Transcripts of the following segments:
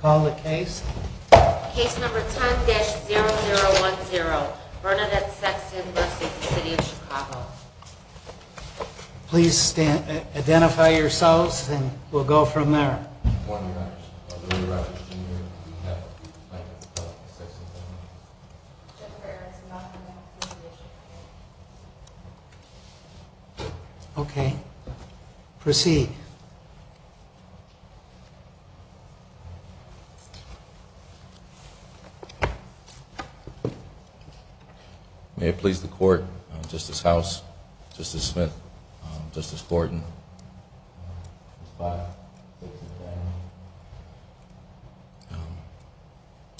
Call the case. Case number 10-0010, Bernadette Sexton v. City of Chicago. Please identify yourselves and we'll go from there. Okay. Proceed. May it please the court, Justice House, Justice Smith, Justice Thornton.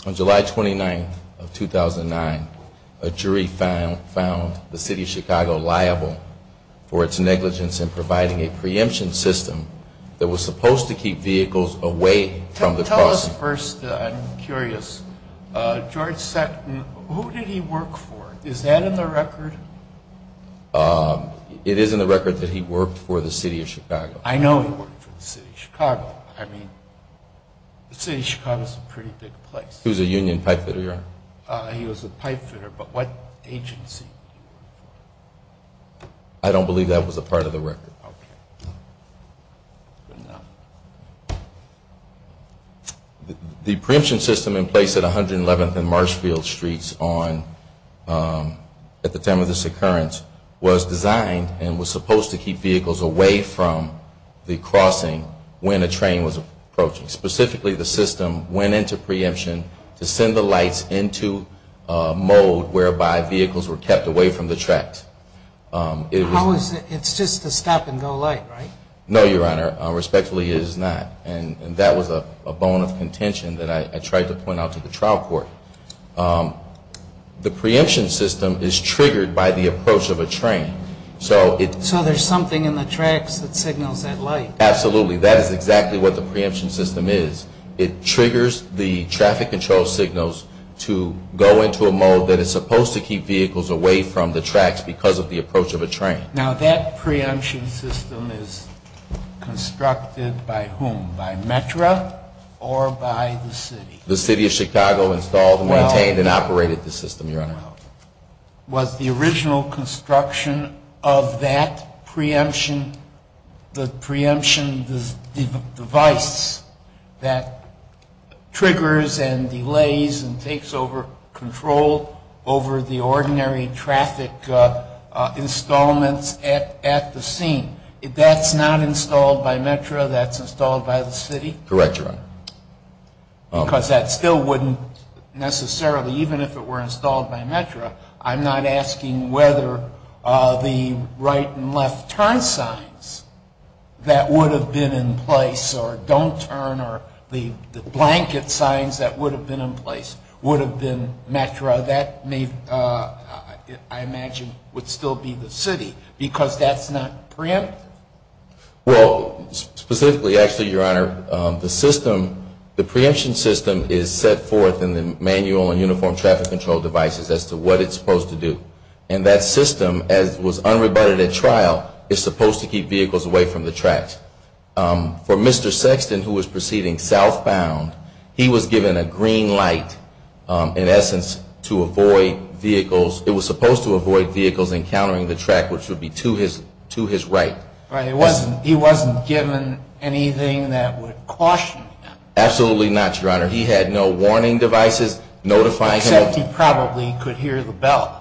On July 29, 2009, a jury found the City of Chicago liable for its negligence in providing a preemption system that was supposed to keep vehicles away from the city of Chicago. Tell us first, I'm curious, George Sexton, who did he work for? Is that in the record? It is in the record that he worked for the City of Chicago. I know he worked for the City of Chicago. I mean, the City of Chicago is a pretty big place. He was a union pipefitter, Your Honor. He was a pipefitter, but what agency? Okay. The preemption system in place at 111th and Marshfield Streets at the time of this occurrence was designed and was supposed to keep vehicles away from the crossing when a train was approaching. Specifically, the system went into preemption to send the lights into a mode whereby vehicles were kept away from the tracks. It's just a stop and go light, right? No, Your Honor. Respectfully, it is not. And that was a bone of contention that I tried to point out to the trial court. The preemption system is triggered by the approach of a train. So there's something in the tracks that signals that light. Absolutely. That is exactly what the preemption system is. It triggers the traffic control signals to go into a mode that is supposed to keep vehicles away from the tracks because of the approach of a train. Now, that preemption system is constructed by whom? By METRA or by the City? The City of Chicago installed, maintained, and operated the system, Your Honor. Was the original construction of that preemption, the preemption device that triggers and delays and takes over control over the ordinary traffic installments at the scene, that's not installed by METRA, that's installed by the City? Because that still wouldn't necessarily, even if it were installed by METRA, I'm not asking whether the right and left turn signs that would have been in place or don't turn or the blanket signs that would have been in place would have been METRA. That may, I imagine, would still be the City because that's not preemptive. Well, specifically, actually, Your Honor, the system, the preemption system is set forth in the manual and uniform traffic control devices as to what it's supposed to do. And that system, as was unrebutted at trial, is supposed to keep vehicles away from the tracks. For Mr. Sexton, who was proceeding southbound, he was given a green light, in essence, to avoid vehicles. It was supposed to avoid vehicles encountering the track, which would be to his right. He wasn't given anything that would caution him. Absolutely not, Your Honor. He had no warning devices notifying him. Except he probably could hear the bell.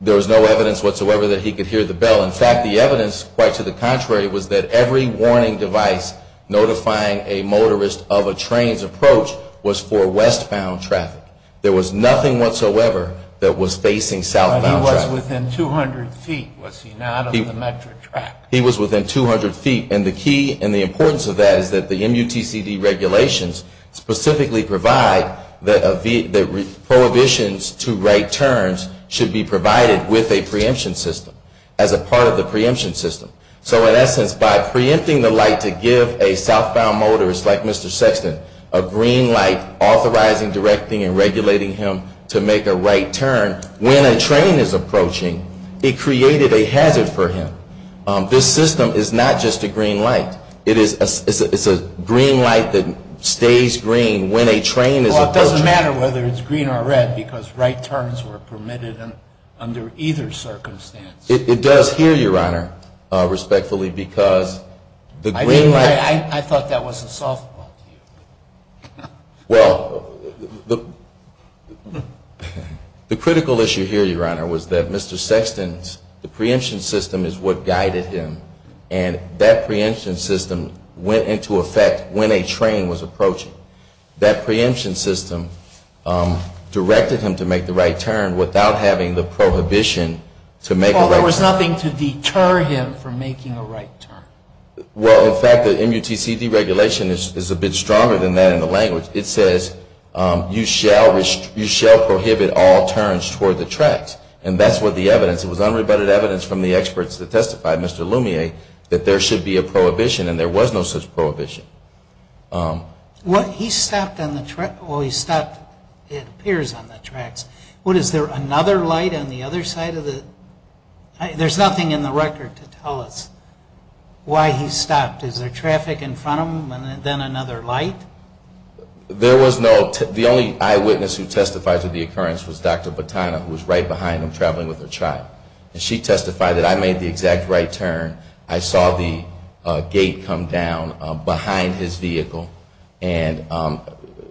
There was no evidence whatsoever that he could hear the bell. In fact, the evidence, quite to the contrary, was that every warning device notifying a motorist of a train's approach was for westbound traffic. There was nothing whatsoever that was facing southbound traffic. But he was within 200 feet, was he not, of the METRA track? He was within 200 feet. And the key and the importance of that is that the MUTCD regulations specifically provide that prohibitions to right turns should be provided with a preemption system, as a part of the preemption system. So, in essence, by preempting the light to give a southbound motorist like Mr. Sexton a green light, authorizing, directing, and regulating him to make a right turn when a train is approaching, it created a hazard for him. This system is not just a green light. It is a green light that stays green when a train is approaching. Well, it doesn't matter whether it's green or red because right turns were permitted under either circumstance. It does here, Your Honor, respectfully, because the green light I thought that was a southbound view. Well, the critical issue here, Your Honor, was that Mr. Sexton's preemption system is what guided him. And that preemption system went into effect when a train was approaching. That preemption system directed him to make the right turn without having the prohibition to make a right turn. Well, there was nothing to deter him from making a right turn. Well, in fact, the MUTCD regulation is a bit stronger than that in the language. It says, you shall prohibit all turns toward the tracks. And that's what the evidence. It was unrebutted evidence from the experts that testified, Mr. Lumiere, that there should be a prohibition. And there was no such prohibition. Well, he stopped on the track. Well, he stopped, it appears, on the tracks. What, is there another light on the other side of the? There's nothing in the record to tell us why he stopped. Is there traffic in front of him and then another light? There was no. The only eyewitness who testified to the occurrence was Dr. Batana, who was right behind him traveling with her child. And she testified that I made the exact right turn. I saw the gate come down behind his vehicle. And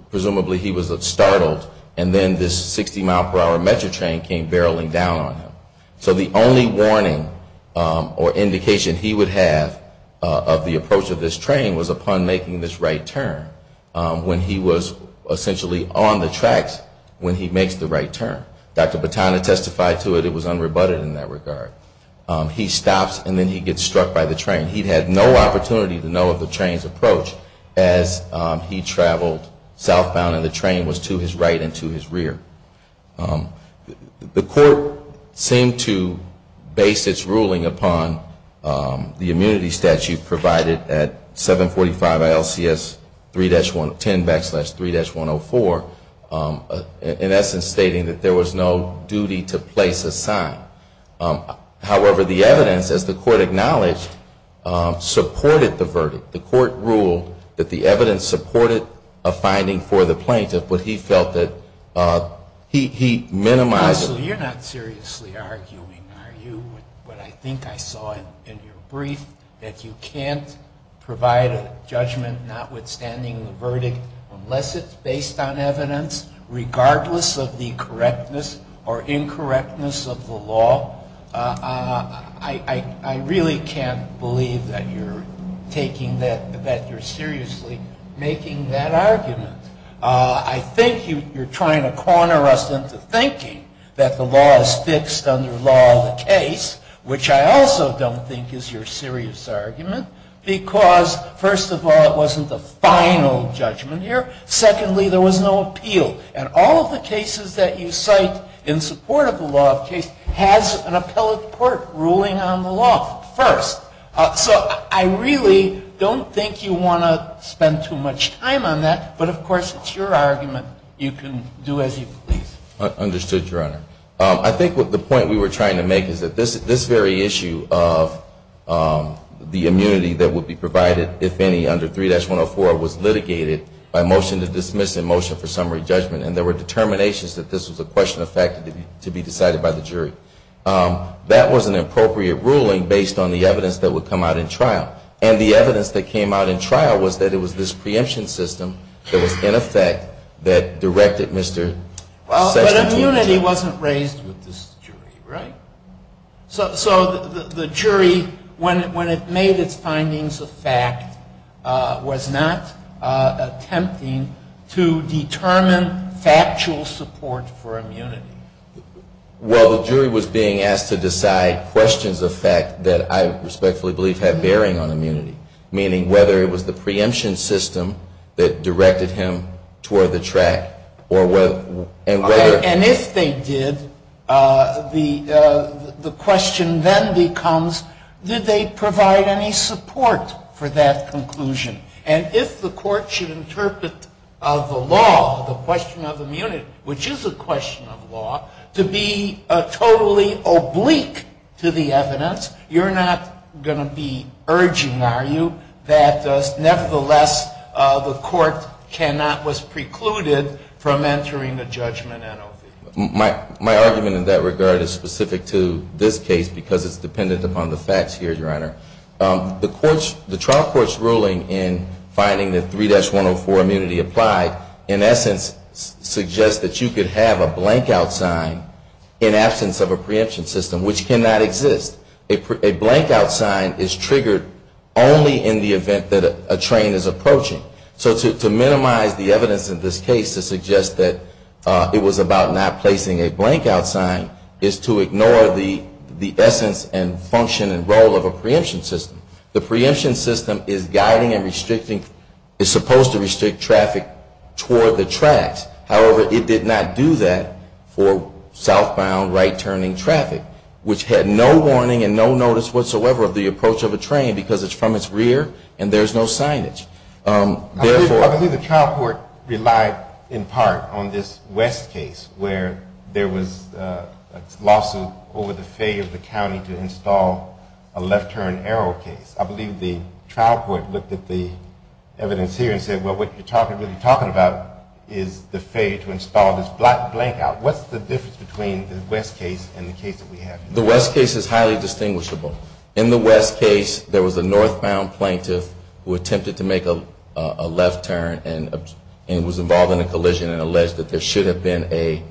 presumably he was startled. And then this 60-mile-per-hour Metra train came barreling down on him. So the only warning or indication he would have of the approach of this train was upon making this right turn. When he was essentially on the tracks when he makes the right turn. Dr. Batana testified to it. It was unrebutted in that regard. He stops and then he gets struck by the train. He had no opportunity to know of the train's approach as he traveled southbound and the train was to his right and to his rear. The court seemed to base its ruling upon the immunity statute provided at 745 LCS 10 backslash 3-104, in essence stating that there was no duty to place a sign. However, the evidence, as the court acknowledged, supported the verdict. The court ruled that the evidence supported a finding for the plaintiff, but he felt that he minimized it. Counsel, you're not seriously arguing, are you, with what I think I saw in your brief? That you can't provide a judgment notwithstanding the verdict unless it's based on evidence, regardless of the correctness or incorrectness of the law. I really can't believe that you're taking that, that you're seriously making that argument. I think you're trying to corner us into thinking that the law is fixed under law of the case, which I also don't think is your serious argument, because, first of all, it wasn't the final judgment here. Secondly, there was no appeal, and all of the cases that you cite in support of the law of the case has an appellate court ruling on the law first. So I really don't think you want to spend too much time on that, but, of course, it's your argument. You can do as you please. Understood, Your Honor. I think the point we were trying to make is that this very issue of the immunity that would be provided, if any, under 3-104, was litigated by most of the courts. And there were determinations that this was a question of fact to be decided by the jury. That was an appropriate ruling based on the evidence that would come out in trial. And the evidence that came out in trial was that it was this preemption system that was, in effect, that directed Mr. Sessions to the jury. Well, but immunity wasn't raised with this jury, right? So the jury, when it made its findings a fact, was not attempting to disprove it. It was attempting to determine factual support for immunity. Well, the jury was being asked to decide questions of fact that I respectfully believe have bearing on immunity, meaning whether it was the preemption system that directed him toward the track. And if they did, the question then becomes, did they provide any support for that conclusion? And if the court should interpret the law, the question of immunity, which is a question of law, to be totally oblique to the evidence, you're not going to be urging, are you, that nevertheless, the court cannot, was precluded from entering a judgment in OV? My argument in that regard is specific to this case because it's dependent upon the facts here, Your Honor. The trial court's ruling in finding that 3-104 immunity applied, in essence, suggests that you could have a blank-out sign in absence of a preemption system, which cannot exist. A blank-out sign is triggered only in the event that a train is approaching. So to minimize the evidence in this case to suggest that it was about not placing a blank-out sign is to ignore the essence and function and role of a preemption system. The preemption system is guiding and restricting, is supposed to restrict traffic toward the tracks. However, it did not do that for southbound, right-turning traffic, which had no warning and no notice whatsoever of the approach of a train because it's from its rear and there's no signage. I believe the trial court relied, in part, on this West case where there was a lawsuit over the failure of the county to install a left-turn exit. And I think the trial court relied on this West case where there was a lawsuit over the failure of the county to install a left-turn exit. And I think the trial court relied on this West case where there was a lawsuit over the failure of the county to install a left-turn exit. The West case is highly distinguishable. In the West case, there was a northbound plaintiff who attempted to make a left turn and was involved in a collision and alleged that there should have been a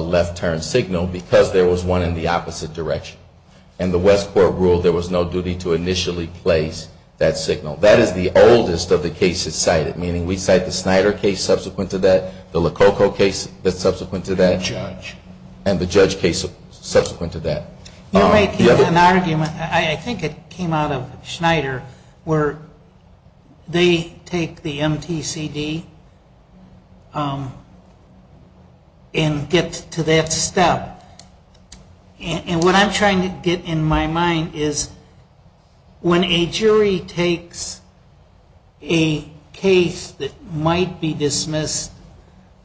left-turn signal because there was one in the opposite direction. And the West court ruled there was no duty to make a left-turn signal. And the West court ruled there was no duty to make a left-turn signal. And the West court ruled there was no duty to initially place that signal. That is the oldest of the cases cited, meaning we cite the Schneider case subsequent to that, the Lococo case subsequent to that, and the Judge case subsequent to that. You're making an argument, I think it came out of Schneider, where they take the MTCD and get to that step. And what I'm trying to get in my mind is when a jury takes a case that might be dismissed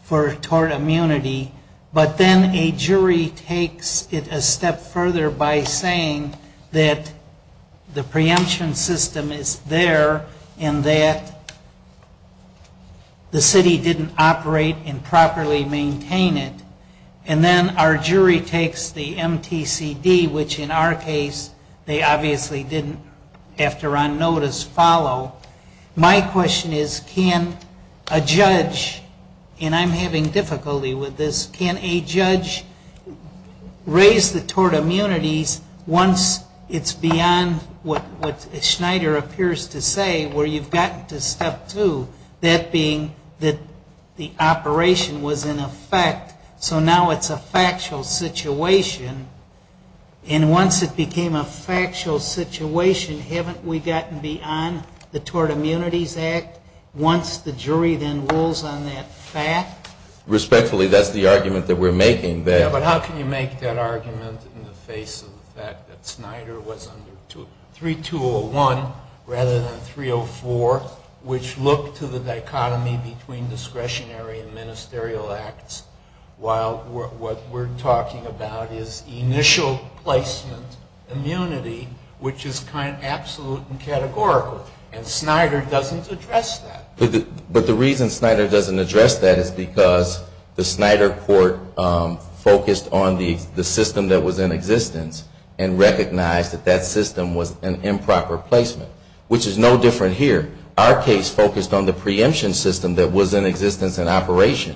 for tort immunity, but then a jury takes it a step further and says, well, we're going to do that. We're going to go a step further by saying that the preemption system is there and that the city didn't operate and properly maintain it. And then our jury takes the MTCD, which in our case they obviously didn't, after on notice, follow. My question is, can a judge, and I'm having difficulty with this, can a judge raise the tort immunities once it's beyond what Schneider appears to say, where you've gotten to step two, that being that the operation was in effect, so now it's a factual situation. And once it became a factual situation, haven't we gotten beyond that? Respectfully, that's the argument that we're making there. Yeah, but how can you make that argument in the face of the fact that Schneider was under 3201 rather than 304, which looked to the dichotomy between discretionary and ministerial acts, while what we're talking about is initial placement immunity, which is kind of absolute and categorical. And so we have to look at that. But Schneider doesn't address that. But the reason Schneider doesn't address that is because the Schneider court focused on the system that was in existence and recognized that that system was an improper placement, which is no different here. Our case focused on the preemption system that was in existence and operation.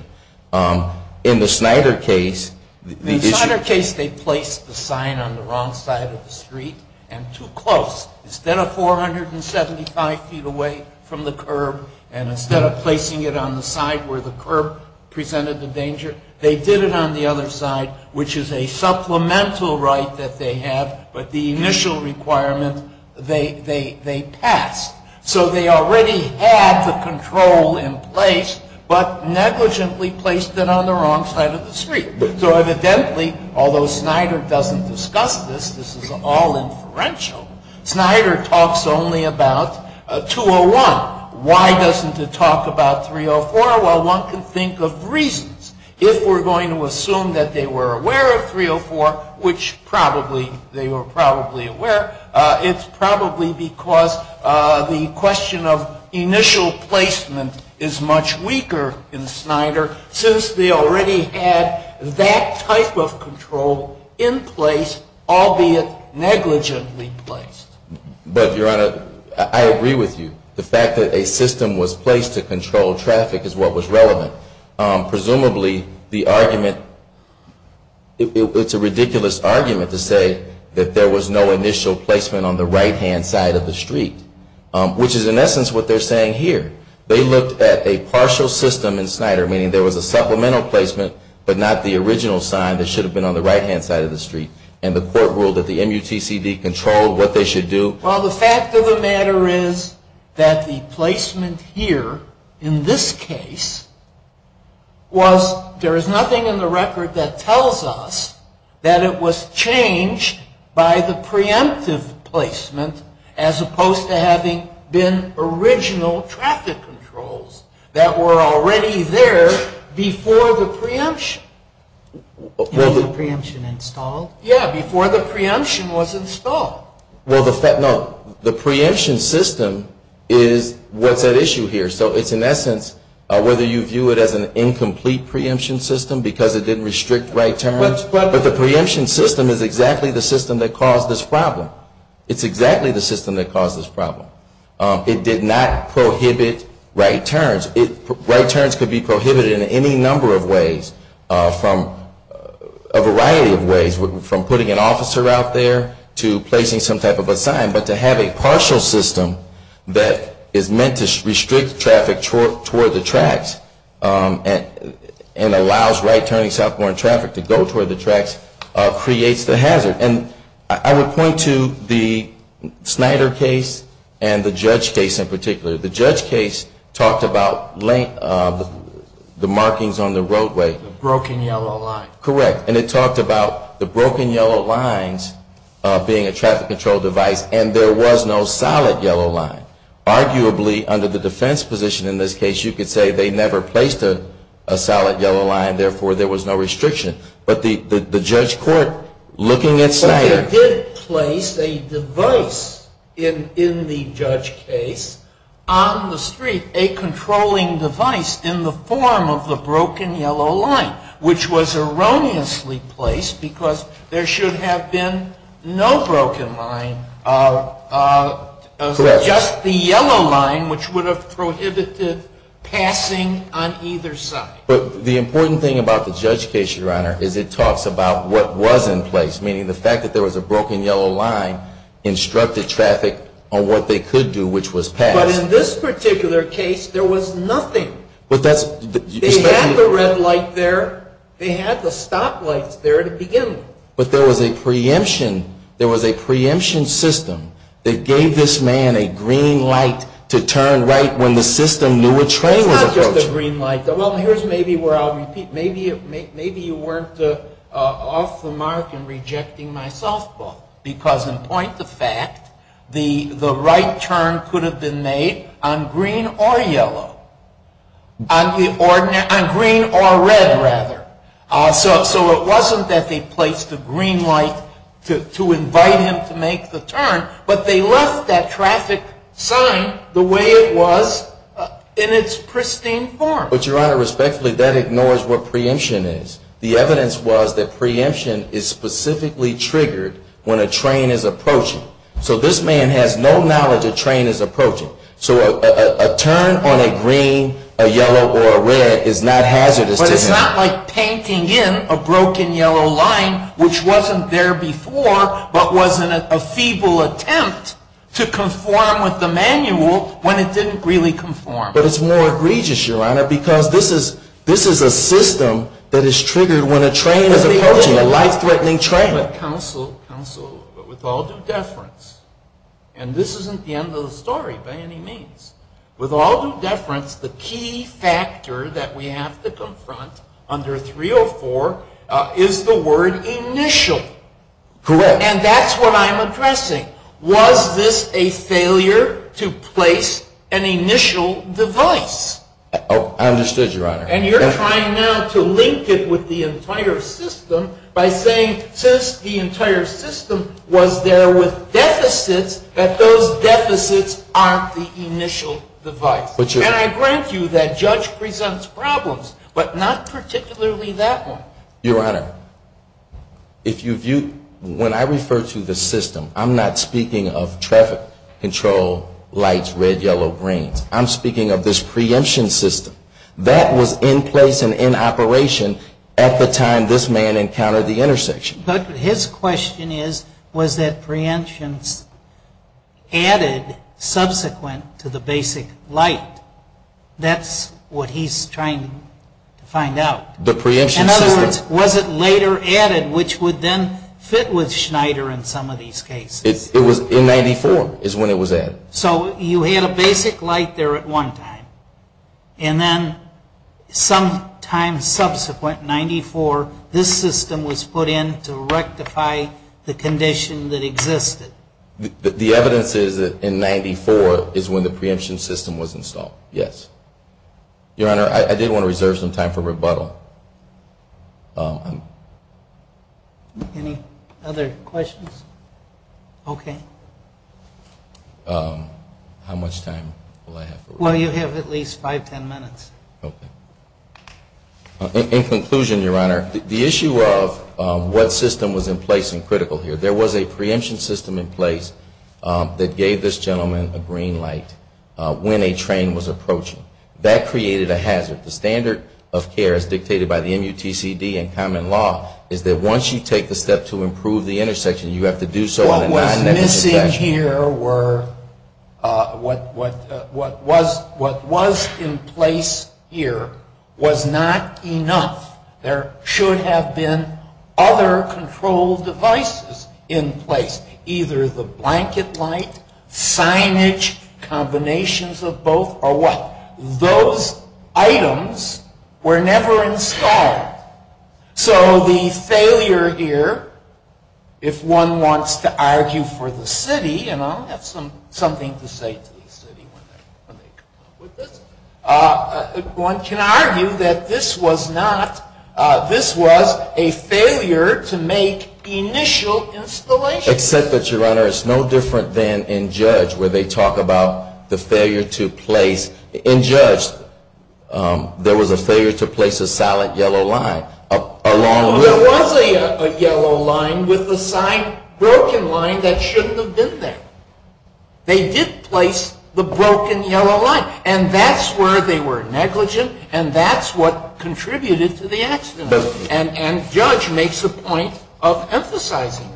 In the Schneider case, the issue the sign on the wrong side of the street and too close. Instead of 475 feet away from the curb and instead of placing it on the side where the curb presented the danger, they did it on the other side, which is a supplemental right that they have, but the initial requirement they passed. So they already had the control in place, but negligently placed it on the wrong side of the street. So evidently, although Schneider doesn't discuss this, this is all inferential, Schneider talks only about 201. Why doesn't it talk about 304? Well, one can think of reasons. If we're going to assume that they were aware of 304, which probably they were probably aware, it's probably because the question of initial placement is much weaker in Schneider, since they already had the control in place. But, Your Honor, I agree with you. The fact that a system was placed to control traffic is what was relevant. Presumably the argument, it's a ridiculous argument to say that there was no initial placement on the right-hand side of the street, which is in essence what they're saying here. They looked at a partial system in Schneider, meaning there was a supplemental placement, but not the original sign that should have been on the right-hand side of the street, and the court ruled that the MUTCD controlled what they should do. Well, the fact of the matter is that the placement here, in this case, was, there is nothing in the record that tells us that it was changed by the preemptive placement as opposed to having been original traffic controls that were already there before the preemption. Was the preemption installed? Yeah, before the preemption was installed. Well, the fact, no, the preemption system is what's at issue here. So it's in essence, whether you view it as an incomplete preemption system because it didn't restrict right turns, but the preemption system is exactly the system that caused this problem. It's exactly the system that caused this problem. It did not prohibit right turns. Right turns could be prohibited in any number of ways, a variety of ways, from putting an officer out there to placing some type of a sign, but to have a partial system that is meant to restrict traffic toward the tracks and allows right-turning southbound traffic to go toward the tracks creates the hazard. I would point to the Snyder case and the judge case in particular. The judge case talked about the markings on the roadway. The broken yellow line. Correct. And it talked about the broken yellow lines being a traffic control device and there was no solid yellow line. Arguably, under the defense position in this case, you could say they never placed a solid yellow line, therefore, there was no restriction. But the judge court, looking at Snyder. But they did place a device in the judge case on the street, a controlling device in the form of the broken yellow line, which was erroneously placed because there should have been no broken line, just the yellow line, which would have prohibited passing on either side. But the important thing about the judge case, Your Honor, is it talks about what was in place, meaning the fact that there was a broken yellow line instructed traffic on what they could do, which was pass. But in this particular case, there was nothing. But that's. They had the red light there. They had the stop lights there at the beginning. But there was a preemption. There was a preemption system that gave this man a green light to turn right when the system knew a train was approaching. Well, here's maybe where I'll repeat. Maybe you weren't off the mark in rejecting my softball. Because in point of fact, the right turn could have been made on green or yellow. On green or red, rather. So it wasn't that they placed a green light to invite him to make the turn. But they left that traffic sign the way it was in its pristine form. But, Your Honor, respectfully, that ignores what preemption is. The evidence was that preemption is specifically triggered when a train is approaching. So this man has no knowledge a train is approaching. So a turn on a green, a yellow, or a red is not hazardous to him. But it's not like painting in a broken yellow line, which wasn't there before, but was in a feeble attempt to conform with the manual when it didn't really conform. But it's more egregious, Your Honor, because this is a system that is triggered when a train is approaching, a life-threatening train. But counsel, counsel, with all due deference, and this isn't the end of the story by any means. With all due deference, the key factor that we have to confront under 304 is the word initial. Correct. And that's what I'm addressing. Was this a failure to place an initial device? I understood, Your Honor. And you're trying now to link it with the entire system by saying since the entire system was there with deficits, that those deficits aren't the initial device. And I grant you that judge presents problems, but not particularly that one. Your Honor, if you view, when I refer to the system, I'm not speaking of traffic control, lights, red, yellow, green. I'm speaking of this preemption system. That was in place and in operation at the time this man encountered the intersection. But his question is, was that preemption added subsequent to the basic light? That's what he's trying to find out. The preemption system. In other words, was it later added, which would then fit with Schneider in some of these cases? It was in 94 is when it was added. So you had a basic light there at one time. And then sometime subsequent, 94, this system was put in to rectify the condition that existed. The evidence is that in 94 is when the preemption system was installed, yes. Your Honor, I did want to reserve some time for rebuttal. Any other questions? Okay. How much time will I have for rebuttal? Well, you have at least five, ten minutes. Okay. In conclusion, Your Honor, the issue of what system was in place and critical here. There was a preemption system in place that gave this gentleman a green light when a train was approaching. That created a hazard. The standard of care as dictated by the MUTCD and common law is that once you take the step to improve the intersection, you have to do so on a non-negative inspection. What was missing here were, what was in place here was not enough. There should have been other control devices in place. Either the blanket light, signage, combinations of both, or what? Those items were never installed. So the failure here, if one wants to argue for the city, and I'll have something to say to the city when they come up with this. One can argue that this was not, this was a failure to make initial installations. Except that, Your Honor, it's no different than in Judge where they talk about the failure to place. In Judge, there was a failure to place a solid yellow line. There was a yellow line with a sign, broken line, that shouldn't have been there. They did place the broken yellow line. And that's where they were negligent, and that's what contributed to the accident. And Judge makes a point of emphasizing that.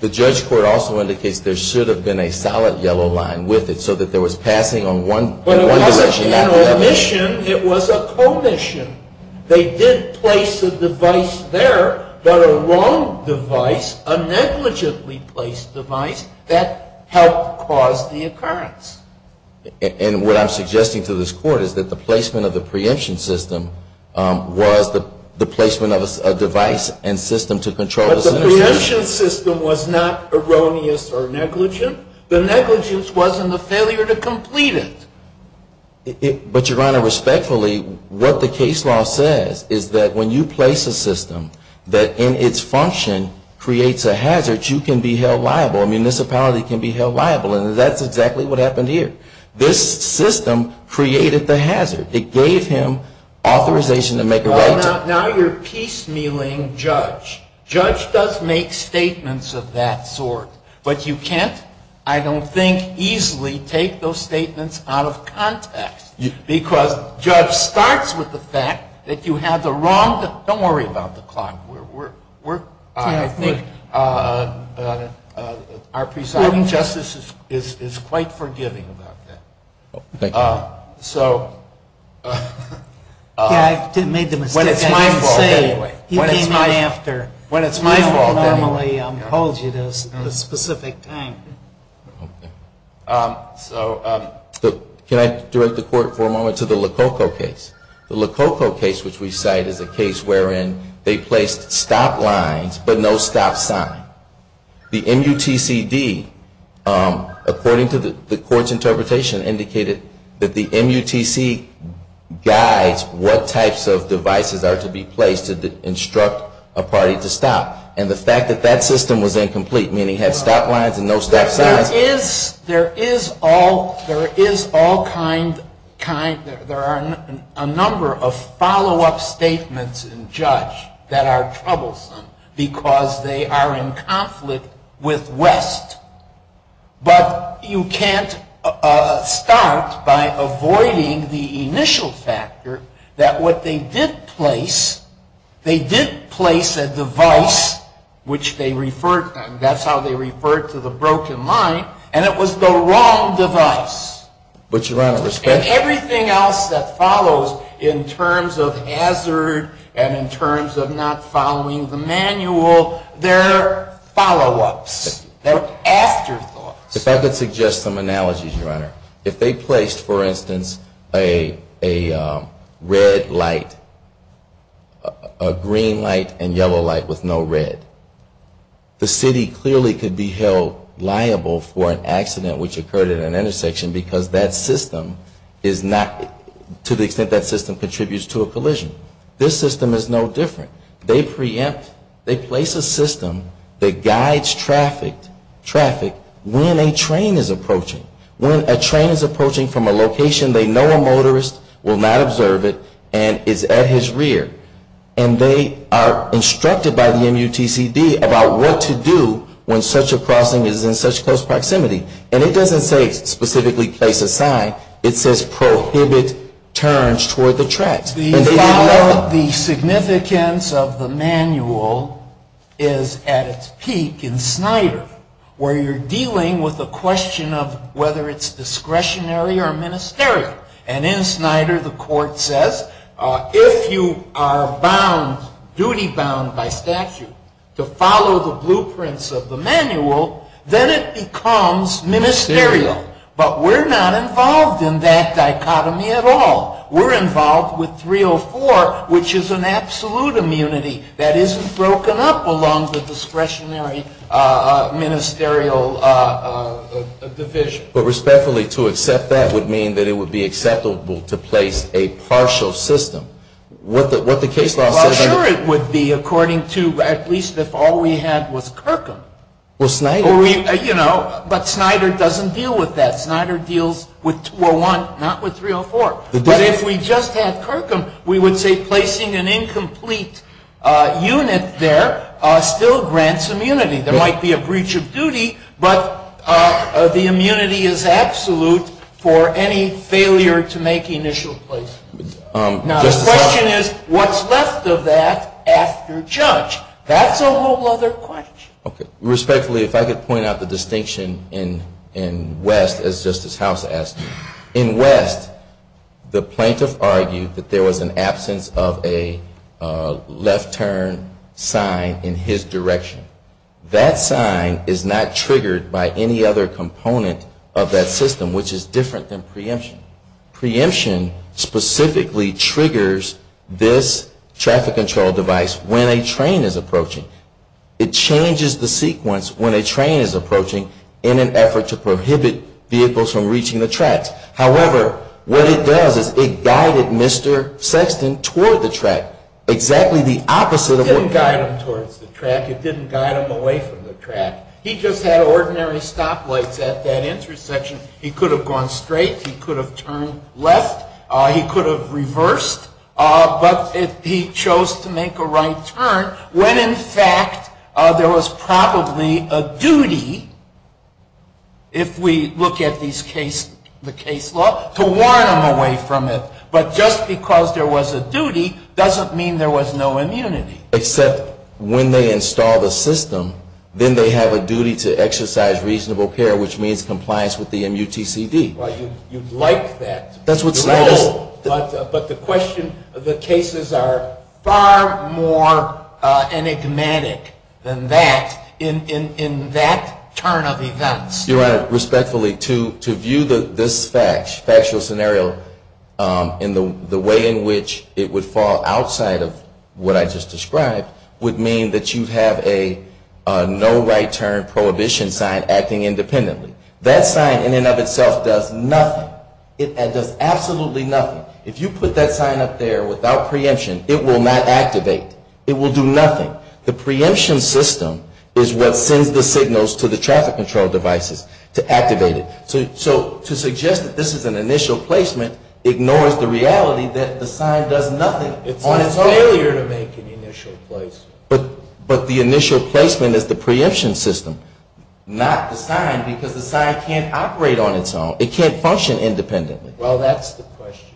The Judge Court also indicates there should have been a solid yellow line with it so that there was passing on one decision after the other. But it wasn't an omission. It was a commission. They did place a device there, but a wrong device, a negligently placed device, that helped cause the occurrence. And what I'm suggesting to this Court is that the placement of the preemption system was the placement of a device and system to control the situation. But the preemption system was not erroneous or negligent. The negligence wasn't the failure to complete it. But, Your Honor, respectfully, what the case law says is that when you place a system that in its function creates a hazard, you can be held liable. A municipality can be held liable. And that's exactly what happened here. This system created the hazard. It gave him authorization to make a right. Now you're piecemealing Judge. Judge does make statements of that sort. But you can't, I don't think, easily take those statements out of context. Because Judge starts with the fact that you have the wrong, don't worry about the clock. We're, I think, our presiding justice is quite forgiving about that. So. Yeah, I made the mistake. When it's my fault anyway. He came in after. When it's my fault anyway. I don't normally hold you to a specific time. So can I direct the Court for a moment to the Lococo case? The Lococo case, which we cite, is a case wherein they placed stop lines but no stop sign. The MUTCD, according to the Court's interpretation, indicated that the MUTCD guides what types of devices are to be placed to instruct a party to stop. And the fact that that system was incomplete, meaning it had stop lines and no stop signs. There is all kind, there are a number of follow-up statements in Judge that are troublesome. Because they are in conflict with West. But you can't start by avoiding the initial factor that what they did place, they did place a device, which they referred, that's how they referred to the broken line, and it was the wrong device. But, Your Honor, respect. And everything else that follows in terms of hazard and in terms of not following the manual, they're follow-ups. They're afterthoughts. If I could suggest some analogies, Your Honor. If they placed, for instance, a red light, a green light and yellow light with no red, the city clearly could be held liable for an accident which occurred at an intersection because that system is not, to the extent that system contributes to a collision. This system is no different. They preempt, they place a system that guides traffic when a train is approaching. When a train is approaching from a location they know a motorist will not observe it and is at his rear. And they are instructed by the MUTCD about what to do when such a crossing is in such close proximity. And it doesn't say specifically place a sign. It says prohibit turns toward the tracks. The significance of the manual is at its peak in Snyder where you're dealing with a question of whether it's discretionary or ministerial. And in Snyder the court says if you are duty-bound by statute to follow the blueprints of the manual, then it becomes ministerial. But we're not involved in that dichotomy at all. We're involved with 304 which is an absolute immunity that isn't broken up along the discretionary ministerial division. But respectfully to accept that would mean that it would be acceptable to place a partial system. What the case law says is Well, sure it would be according to at least if all we had was Kirkham. Well, Snyder But Snyder doesn't deal with that. Snyder deals with 201, not with 304. But if we just had Kirkham, we would say placing an incomplete unit there still grants immunity. There might be a breach of duty, but the immunity is absolute for any failure to make initial placement. Now the question is what's left of that after judge? That's a whole other question. Okay. Respectfully, if I could point out the distinction in West as Justice House asked. In West, the plaintiff argued that there was an absence of a left turn sign in his direction. That sign is not triggered by any other component of that system which is different than preemption. Preemption specifically triggers this traffic control device when a train is approaching. It changes the sequence when a train is approaching in an effort to prohibit vehicles from reaching the tracks. However, what it does is it guided Mr. Sexton toward the track. Exactly the opposite of what It didn't guide him towards the track. It didn't guide him away from the track. He just had ordinary stoplights at that intersection. He could have gone straight. He could have turned left. He could have reversed. But he chose to make a right turn when, in fact, there was probably a duty, if we look at the case law, to warn him away from it. But just because there was a duty doesn't mean there was no immunity. Except when they install the system, then they have a duty to exercise reasonable care, which means compliance with the MUTCD. You'd like that. But the question, the cases are far more enigmatic than that in that turn of events. Your Honor, respectfully, to view this factual scenario in the way in which it would fall outside of what I just described would mean that you have a no right turn prohibition sign acting independently. That sign in and of itself does nothing. It does absolutely nothing. If you put that sign up there without preemption, it will not activate. It will do nothing. The preemption system is what sends the signals to the traffic control devices to activate it. So to suggest that this is an initial placement ignores the reality that the sign does nothing. It's a failure to make an initial place. But the initial placement is the preemption system, not the sign, because the sign can't operate on its own. It can't function independently. Well, that's the question.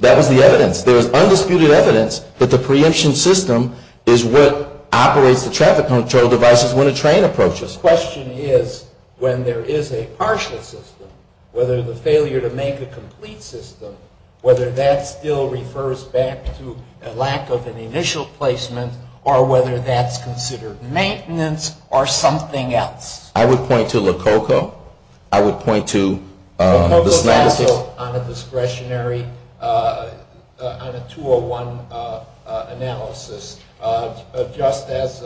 That was the evidence. There was undisputed evidence that the preemption system is what operates the traffic control devices when a train approaches. The question is when there is a partial system, whether the failure to make a complete system, whether that still refers back to a lack of an initial placement or whether that's considered maintenance or something else. I would point to Lococo. I would point to the Snyder case. Lococo is also on a discretionary, on a 201 analysis, just as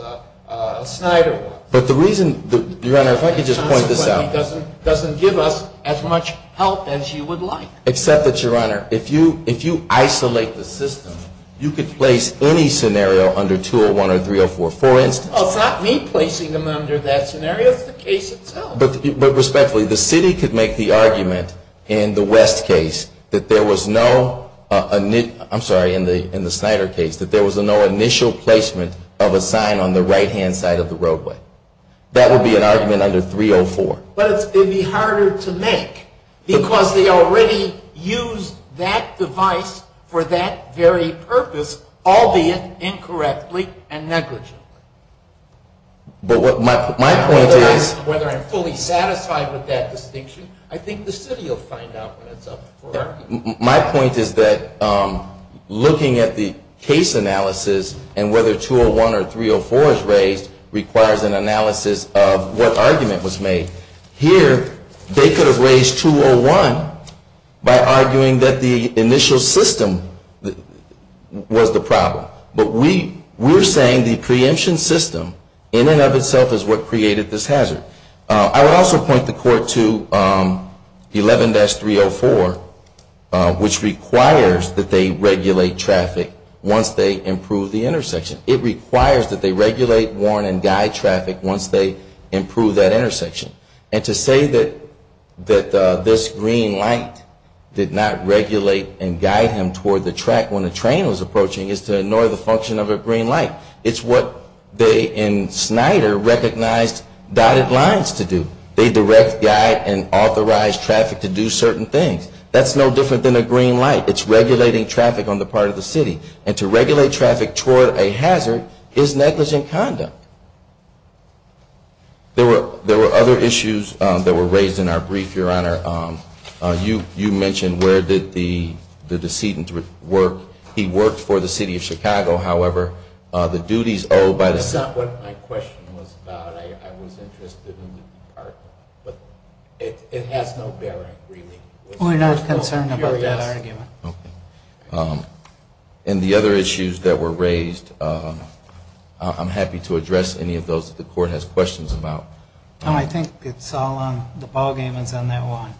Snyder was. But the reason, Your Honor, if I could just point this out. It doesn't give us as much help as you would like. Except that, Your Honor, if you isolate the system, you could place any scenario under 201 or 304. For instance. It's not me placing them under that scenario. It's the case itself. But respectfully, the city could make the argument in the West case that there was no, I'm sorry, in the Snyder case, that there was no initial placement of a sign on the right-hand side of the roadway. That would be an argument under 304. But it would be harder to make because they already used that device for that very purpose, albeit incorrectly and negligently. But my point is. Whether I'm fully satisfied with that distinction, I think the city will find out when it's up for argument. My point is that looking at the case analysis and whether 201 or 304 is raised requires an analysis of what argument was made. Here, they could have raised 201 by arguing that the initial system was the problem. But we're saying the preemption system in and of itself is what created this hazard. I would also point the court to 11-304, which requires that they regulate traffic once they improve the intersection. It requires that they regulate, warn, and guide traffic once they improve that intersection. And to say that this green light did not regulate and guide him toward the track when the train was approaching is to ignore the function of a green light. It's what they in Snyder recognized dotted lines to do. They direct, guide, and authorize traffic to do certain things. That's no different than a green light. It's regulating traffic on the part of the city. And to regulate traffic toward a hazard is negligent conduct. There were other issues that were raised in our brief, Your Honor. You mentioned where did the decedent work. He worked for the city of Chicago. However, the duties owed by the. That's not what my question was about. I was interested in the department. But it has no bearing, really. We're not concerned about that argument. Okay. And the other issues that were raised, I'm happy to address any of those that the court has questions about. I think it's all on, the ball game is on that one.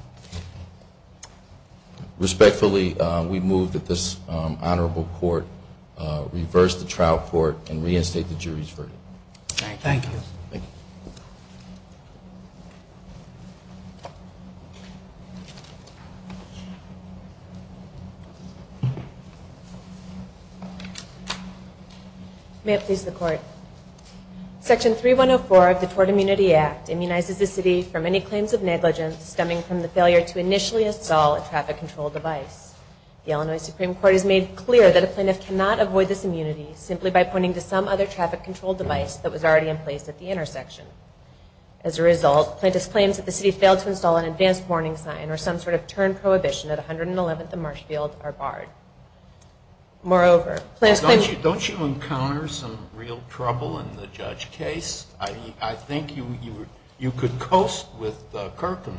Respectfully, we move that this honorable court reverse the trial court and reinstate the jury's verdict. Thank you. Section 3104 of the Tort Immunity Act immunizes the city from any claims of negligence stemming from the failure to initially install a traffic control device. The Illinois Supreme Court has made clear that a plaintiff cannot avoid this immunity simply by pointing to some other traffic control device that was already in place at the intersection. As a result, plaintiffs' claims that the city failed to install an advanced warning sign or some sort of turn prohibition at 111th and Marshfield are barred. Moreover, Don't you encounter some real trouble in the judge case? I think you could coast with Kirkham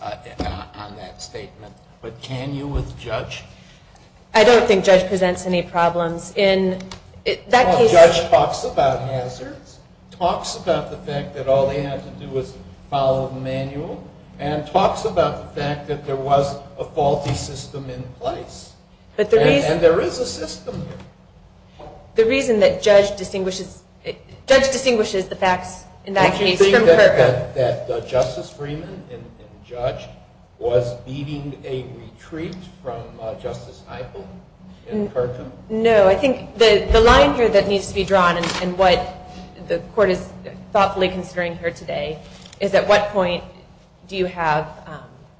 on that statement. But can you with Judge? I don't think Judge presents any problems. Judge talks about hazards, talks about the fact that all they had to do was follow the manual, and talks about the fact that there was a faulty system in place. And there is a system. The reason that Judge distinguishes the facts in that case from Kirkham? Did you think that Justice Freeman and Judge was leading a retreat from Justice Eichel and Kirkham? No. I think the line here that needs to be drawn and what the court is thoughtfully considering here today is at what point do you have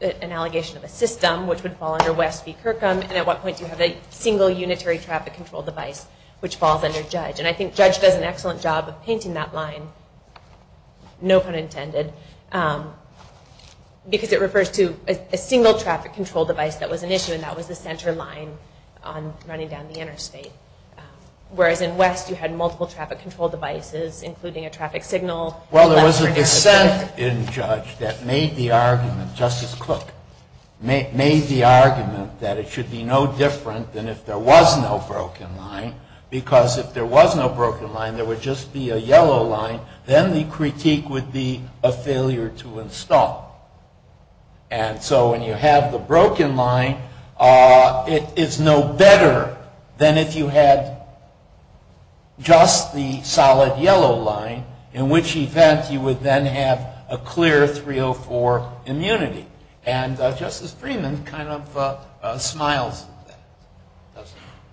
an allegation of a system which would fall under West v. Kirkham and at what point do you have a single unitary traffic control device which falls under Judge? And I think Judge does an excellent job of painting that line, no pun intended, because it refers to a single traffic control device that was an issue and that was the center line on running down the interstate. Whereas in West you had multiple traffic control devices including a traffic signal. Well, there was a dissent in Judge that made the argument, Justice Cook, made the argument that it should be no different than if there was no broken line, because if there was no broken line, there would just be a yellow line, then the critique would be a failure to install. And so when you have the broken line, it's no better than if you had just the solid yellow line in which event you would then have a clear 304 immunity. And Justice Freeman kind of smiles at that.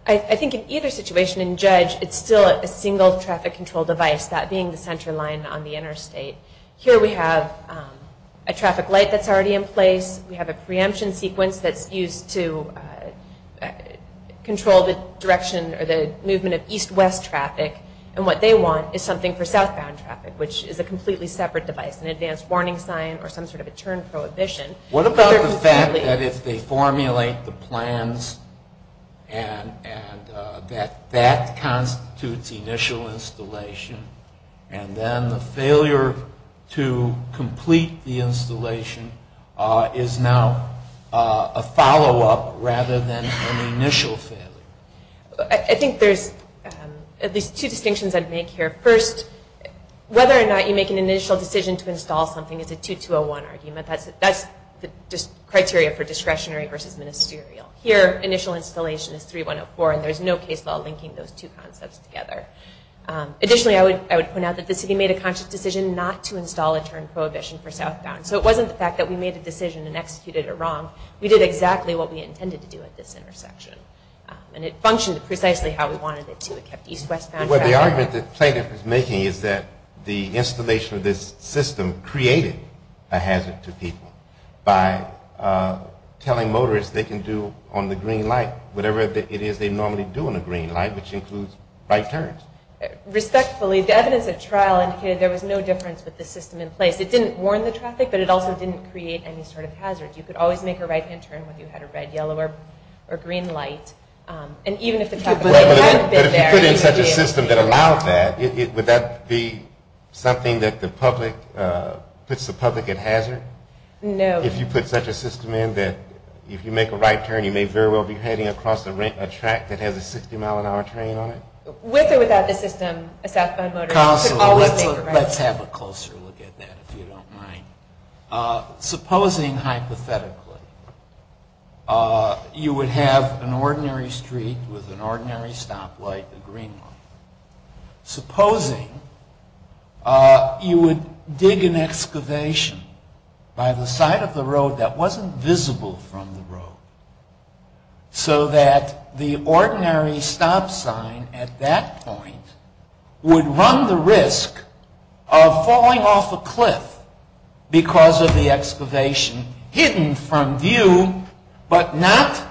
I think in either situation in Judge it's still a single traffic control device, that being the center line on the interstate. Here we have a traffic light that's already in place. We have a preemption sequence that's used to control the direction or the movement of east-west traffic. And what they want is something for southbound traffic, which is a completely separate device, an advance warning sign or some sort of a turn prohibition. What about the fact that if they formulate the plans and that that constitutes initial installation and then the failure to complete the installation is now a follow-up rather than an initial failure? I think there's at least two distinctions I'd make here. First, whether or not you make an initial decision to install something is a 2201 argument. That's the criteria for discretionary versus ministerial. Here, initial installation is 3104 and there's no case law linking those two concepts together. Additionally, I would point out that the city made a conscious decision not to install a turn prohibition for southbound. So it wasn't the fact that we made a decision and executed it wrong. We did exactly what we intended to do at this intersection. And it functioned precisely how we wanted it to. It kept east-west traffic. Well, the argument that plaintiff is making is that the installation of this system created a hazard to people by telling motorists they can do on the green light whatever it is they normally do on a green light, which includes right turns. Respectfully, the evidence of trial indicated there was no difference with the system in place. It didn't warn the traffic, but it also didn't create any sort of hazard. You could always make a right-hand turn when you had a red, yellow, or green light. But if you put in such a system that allowed that, would that be something that puts the public at hazard? No. If you put such a system in that if you make a right turn, you may very well be heading across a track that has a 60-mile-an-hour train on it? With or without the system, a southbound motorist could always make a right turn. Supposing, hypothetically, you would have an ordinary street with an ordinary stoplight, a green light. Supposing you would dig an excavation by the side of the road that wasn't visible from the road so that the ordinary stop sign at that point would run the risk of falling off a cliff because of the excavation hidden from view, but not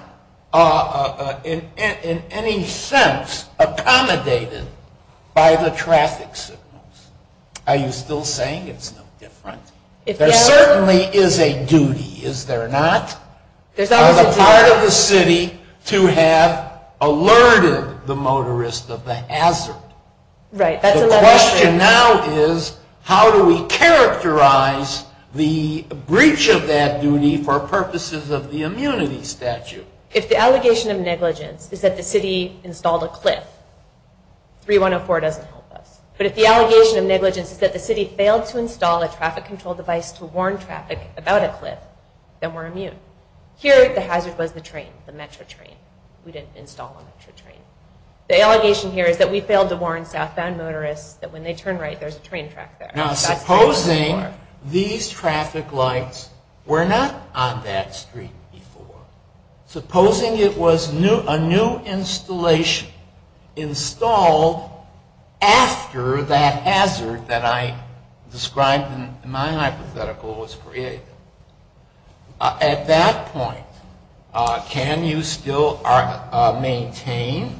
in any sense accommodated by the traffic signals. Are you still saying it's no different? There certainly is a duty, is there not, on the part of the city to have alerted the motorist of the hazard. The question now is how do we characterize the breach of that duty for purposes of the immunity statute? If the allegation of negligence is that the city installed a cliff, 3104 doesn't help us. But if the allegation of negligence is that the city failed to install a traffic control device to warn traffic about a cliff, then we're immune. Here, the hazard was the train, the Metro train. We didn't install one Metro train. The allegation here is that we failed to warn southbound motorists that when they turn right there's a train track there. Now supposing these traffic lights were not on that street before. Supposing it was a new installation installed after that hazard that I described in my hypothetical was created. At that point, can you still maintain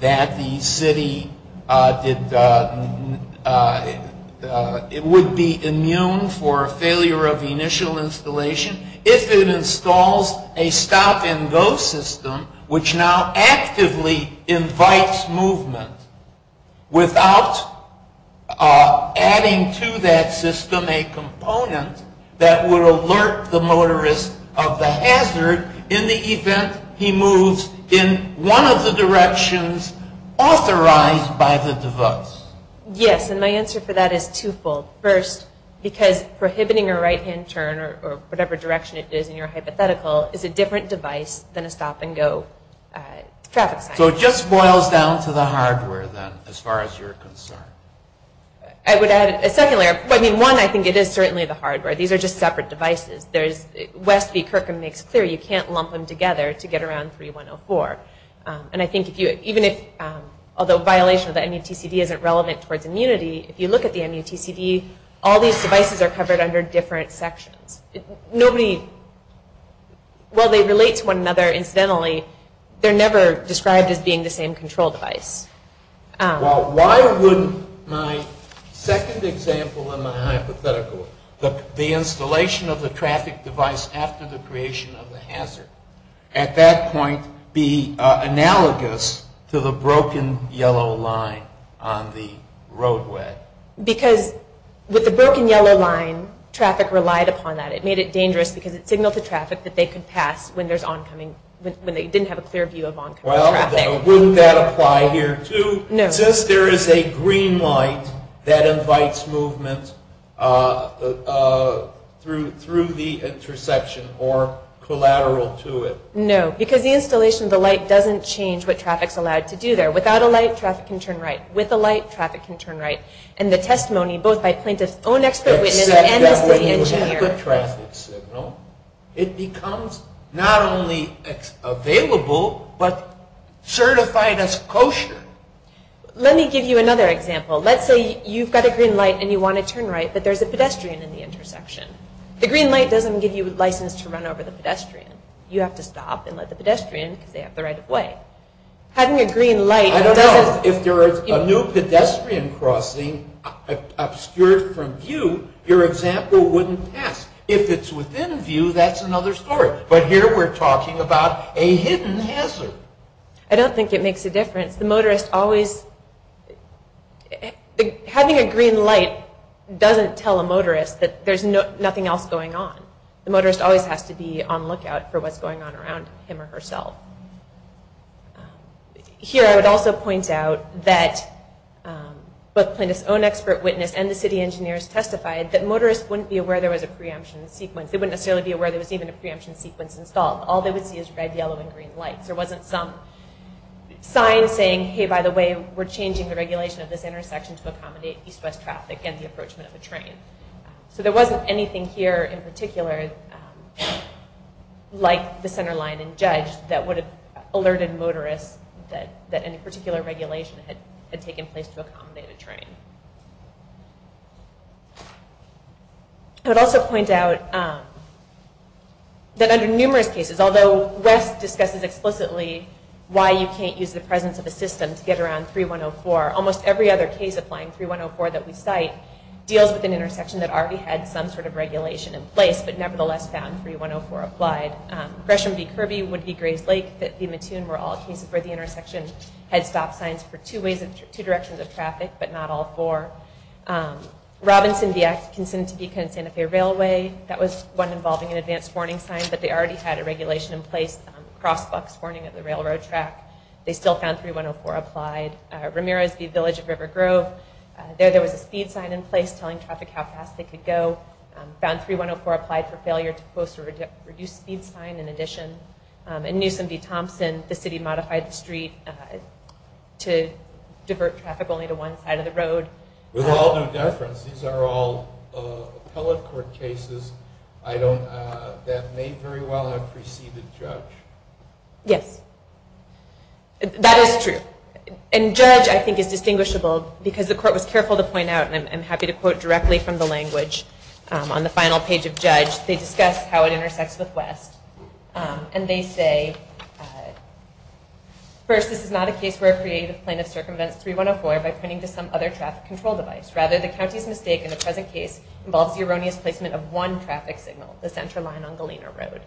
that the city would be immune for failure of the initial installation if it installs a stop and go system which now actively invites movement without adding to that system a component that would alert the motorist of the hazard in the event he moves in one of the directions authorized by the device? Yes, and my answer for that is twofold. First, because prohibiting a right-hand turn or whatever direction it is in your hypothetical is a different device than a stop and go traffic sign. So it just boils down to the hardware, then, as far as you're concerned. I would add a second layer. One, I think it is certainly the hardware. These are just separate devices. West v. Kirkham makes clear you can't lump them together to get around 3104. And I think even if, although violation of the MUTCD isn't relevant towards immunity, if you look at the MUTCD, all these devices are covered under different sections. Nobody, while they relate to one another incidentally, they're never described as being the same control device. Well, why wouldn't my second example in my hypothetical, the installation of the traffic device after the creation of the hazard, at that point be analogous to the broken yellow line on the roadway? Because with the broken yellow line, traffic relied upon that. It made it dangerous because it signaled to traffic that they could pass when they didn't have a clear view of oncoming traffic. Well, wouldn't that apply here, too? No. Since there is a green light that invites movement through the interception or collateral to it. No, because the installation of the light doesn't change what traffic's allowed to do there. Without a light, traffic can turn right. With a light, traffic can turn right. And the testimony, both by plaintiff's own expert witness and the city engineer. Except that when you have a good traffic signal, it becomes not only available, but certified as kosher. Let me give you another example. Let's say you've got a green light and you want to turn right, but there's a pedestrian in the intersection. The green light doesn't give you license to run over the pedestrian. You have to stop and let the pedestrian, because they have the right of way. Having a green light doesn't... I don't know. If there is a new pedestrian crossing obscured from view, your example wouldn't pass. If it's within view, that's another story. But here we're talking about a hidden hazard. I don't think it makes a difference. The motorist always... Having a green light doesn't tell a motorist that there's nothing else going on. The motorist always has to be on lookout for what's going on around him or herself. Here I would also point out that both plaintiff's own expert witness and the city engineers testified that motorists wouldn't be aware there was a preemption sequence. They wouldn't necessarily be aware there was even a preemption sequence installed. All they would see is red, yellow, and green lights. There wasn't some sign saying, hey, by the way, we're changing the regulation of this intersection to accommodate east-west traffic and the approachment of a train. There wasn't anything here in particular like the center line and judge that would have alerted motorists that any particular regulation had taken place to accommodate a train. I would also point out that under numerous cases, although West discusses explicitly why you can't use the presence of a system to get around 3104, almost every other case applying 3104 that we cite deals with an intersection that already had some sort of regulation in place but nevertheless found 3104 applied. Gresham v. Kirby would be Grays Lake. The Mattoon were all cases where the intersection had stop signs for two directions of traffic, but not all four. Robinson v. Atkinson to Beacon-Santa Fe Railway, that was one involving an advance warning sign, but they already had a regulation in place on crosswalks warning of the railroad track. They still found 3104 applied. Ramirez v. Village of River Grove, there was a speed sign in place telling traffic how fast they could go. Found 3104 applied for failure to post a reduced speed sign in addition. And Newsom v. Thompson, the city modified the street to divert traffic only to one side of the road. With all due deference, these are all appellate court cases that may very well have preceded judge. Yes. That is true. And judge, I think, is distinguishable because the court was careful to point out, and I'm happy to quote directly from the language on the final page of judge, they discuss how it intersects with West. And they say, first, this is not a case where a creative plaintiff circumvents 3104 by pointing to some other traffic control device. Rather, the county's mistake in the present case involves the erroneous placement of one traffic signal, the center line on Galena Road.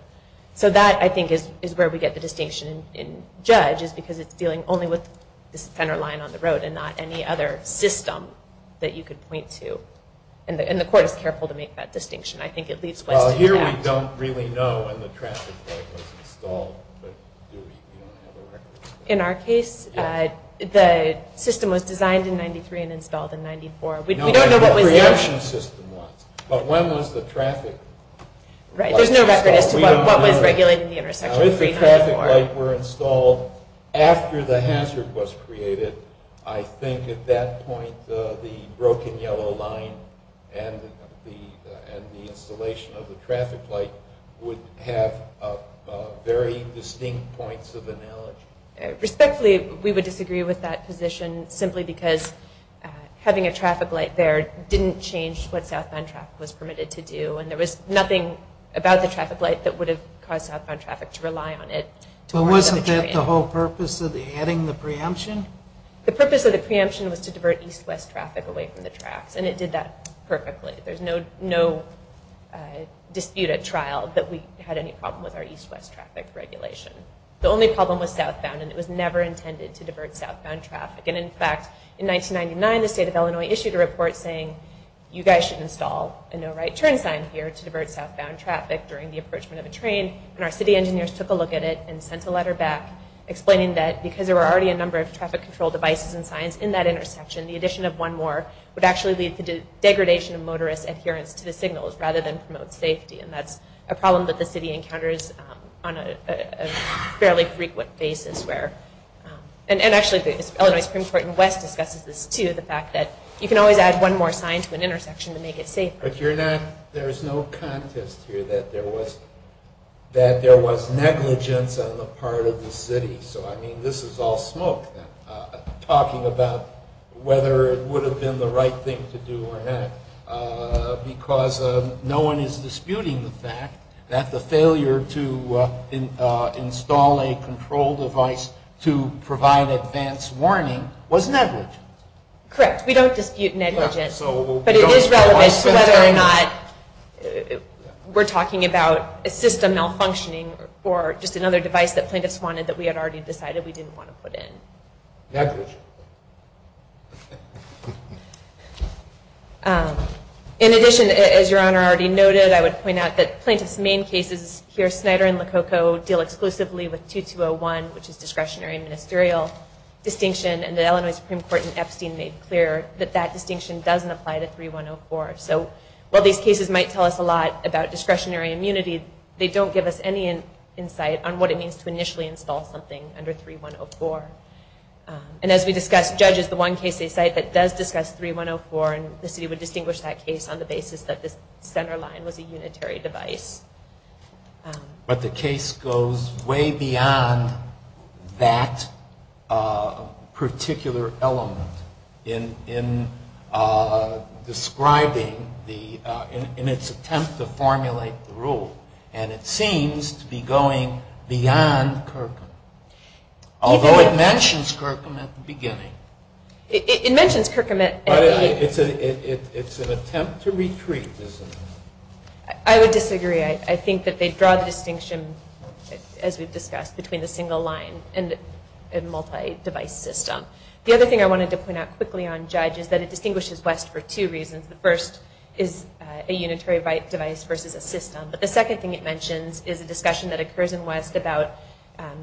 So that, I think, is where we get the distinction in judge, is because it's dealing only with the center line on the road and not any other system that you could point to. And the court is careful to make that distinction. I think it leads West to the past. Well, here we don't really know when the traffic light was installed. But do we? We don't have a record. In our case, the system was designed in 93 and installed in 94. We don't know what was there. No, what the preemption system was. But when was the traffic light installed? Right. There's no record as to what was regulating the intersection 3104. If the traffic light were installed after the hazard was created, I think at that point the broken yellow line and the installation of the traffic light would have very distinct points of analogy. Respectfully, we would disagree with that position simply because having a traffic light there didn't change what southbound traffic was permitted to do, and there was nothing about the traffic light that would have caused southbound traffic to rely on it. But wasn't that the whole purpose of adding the preemption? The purpose of the preemption was to divert east-west traffic away from the tracks, and it did that perfectly. There's no dispute at trial that we had any problem with our east-west traffic regulation. The only problem was southbound, and it was never intended to divert southbound traffic. And, in fact, in 1999 the state of Illinois issued a report saying, you guys should install a no-right-turn sign here to divert southbound traffic during the approachment of a train, and our city engineers took a look at it and sent a letter back explaining that because there were already a number of traffic control devices and signs in that intersection, the addition of one more would actually lead to degradation of motorist adherence to the signals rather than promote safety, and that's a problem that the city encounters on a fairly frequent basis. And, actually, the Illinois Supreme Court in West discusses this, too, the fact that you can always add one more sign to an intersection to make it safer. But there's no contest here that there was negligence on the part of the city. So, I mean, this is all smoke, talking about whether it would have been the right thing to do or not, because no one is disputing the fact that the failure to install a control device to provide advance warning was negligent. Correct. We don't dispute negligence, but it is relevant to whether or not we're talking about a system malfunctioning or just another device that plaintiffs wanted that we had already decided we didn't want to put in. Negligent. In addition, as Your Honor already noted, I would point out that plaintiffs' main cases here, Snyder and Lococo, deal exclusively with 2201, which is discretionary ministerial distinction, and the Illinois Supreme Court in Epstein made clear that that distinction doesn't apply to 3104. So while these cases might tell us a lot about discretionary immunity, they don't give us any insight on what it means to initially install something under 3104. And as we discussed, Judge is the one case they cite that does discuss 3104, and the city would distinguish that case on the basis that this center line was a unitary device. But the case goes way beyond that particular element in describing the, in its attempt to formulate the rule, and it seems to be going beyond Kirkham. Although it mentions Kirkham at the beginning. It mentions Kirkham at the beginning. But it's an attempt to retreat, isn't it? I would disagree. I think that they draw the distinction, as we've discussed, between the single line and multi-device system. The other thing I wanted to point out quickly on Judge is that it distinguishes West for two reasons. The first is a unitary device versus a system. But the second thing it mentions is a discussion that occurs in West about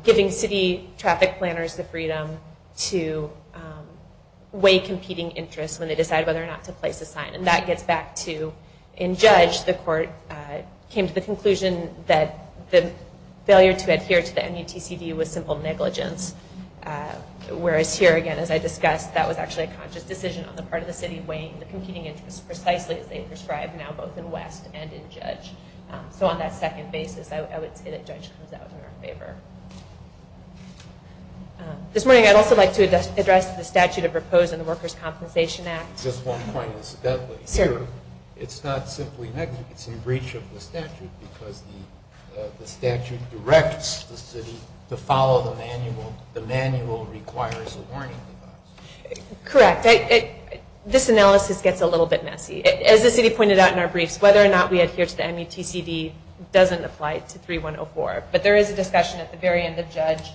giving city traffic planners the freedom to weigh competing interests when they decide whether or not to place a sign. And that gets back to, in Judge, the court came to the conclusion that the failure to adhere to the MUTCD was simple negligence. Whereas here, again, as I discussed, that was actually a conscious decision on the part of the city weighing the competing interests precisely as they prescribe now both in West and in Judge. So on that second basis, I would say that Judge comes out in our favor. This morning, I'd also like to address the statute of repose and the Workers' Compensation Act. Just one point incidentally. Here, it's not simply negligence. It's in breach of the statute because the statute directs the city to follow the manual. The manual requires a warning device. Correct. This analysis gets a little bit messy. As the city pointed out in our briefs, whether or not we adhere to the MUTCD doesn't apply to 3104. But there is a discussion at the very end of Judge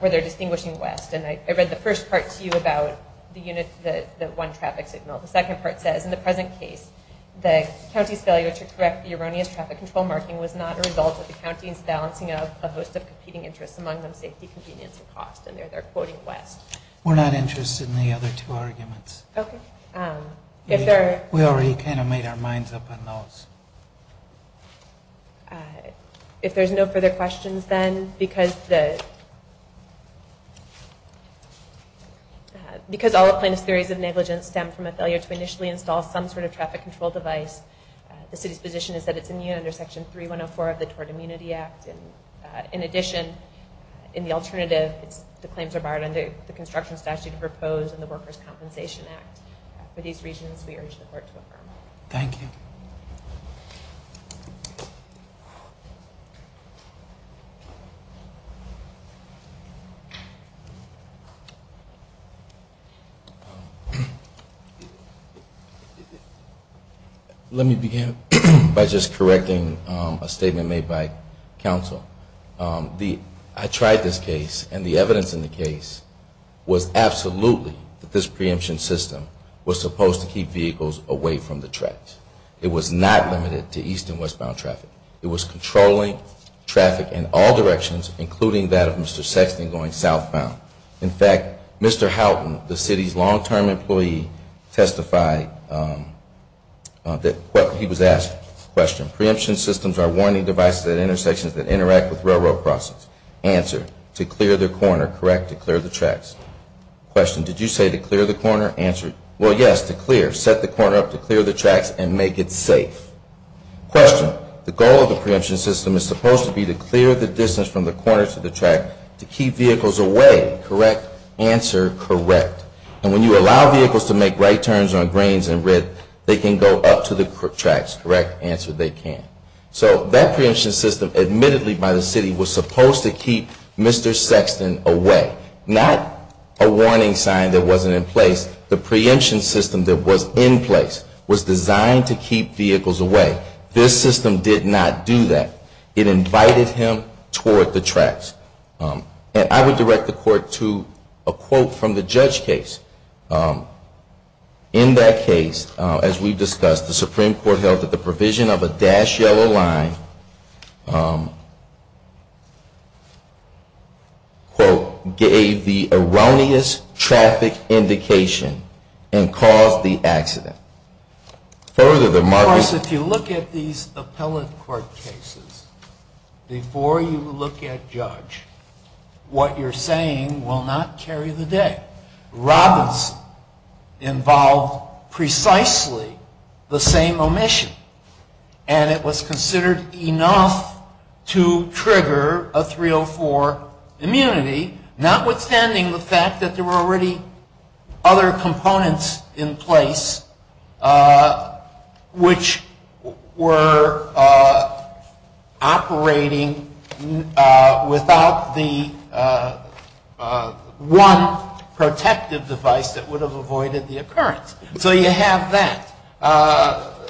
where they're distinguishing West. And I read the first part to you about the one traffic signal. The second part says, in the present case, the county's failure to correct the erroneous traffic control marking was not a result of the county's balancing of a host of competing interests, among them safety, convenience, and cost. And there they're quoting West. We're not interested in the other two arguments. Okay. We already kind of made our minds up on those. If there's no further questions then, because all the plaintiff's theories of negligence stem from a failure to initially install some sort of traffic control device, the city's position is that it's immune under Section 3104 of the Tort Immunity Act. In addition, in the alternative, the claims are barred under the construction statute of repose and the Workers' Compensation Act. For these reasons, we urge the court to affirm. Thank you. Thank you. Let me begin by just correcting a statement made by counsel. I tried this case, and the evidence in the case was absolutely that this preemption system was supposed to keep vehicles away from the tracks. It was not limited to east and westbound traffic. It was controlling traffic in all directions, including that of Mr. Sexton going southbound. In fact, Mr. Houghton, the city's long-term employee, testified that what he was asked, question, preemption systems are warning devices at intersections that interact with railroad crossings. Answer, to clear the corner. Correct, to clear the tracks. Question, did you say to clear the corner? Answer, well, yes, to clear. Set the corner up to clear the tracks and make it safe. Question, the goal of the preemption system is supposed to be to clear the distance from the corner to the track to keep vehicles away. Correct. Answer, correct. And when you allow vehicles to make right turns on grains and red, they can go up to the tracks. Correct. Answer, they can. So that preemption system, admittedly by the city, was supposed to keep Mr. Sexton away. Not a warning sign that wasn't in place. The preemption system that was in place was designed to keep vehicles away. This system did not do that. It invited him toward the tracks. And I would direct the court to a quote from the judge case. In that case, as we've discussed, the Supreme Court held that the provision of a dashed yellow line quote, gave the erroneous traffic indication and caused the accident. Further, the market... Of course, if you look at these appellate court cases, before you look at judge, what you're saying will not carry the day. Robinson involved precisely the same omission. And it was considered enough to trigger a 304 immunity, notwithstanding the fact that there were already other components in place which were operating without the one protective device that would have avoided the occurrence. So you have that.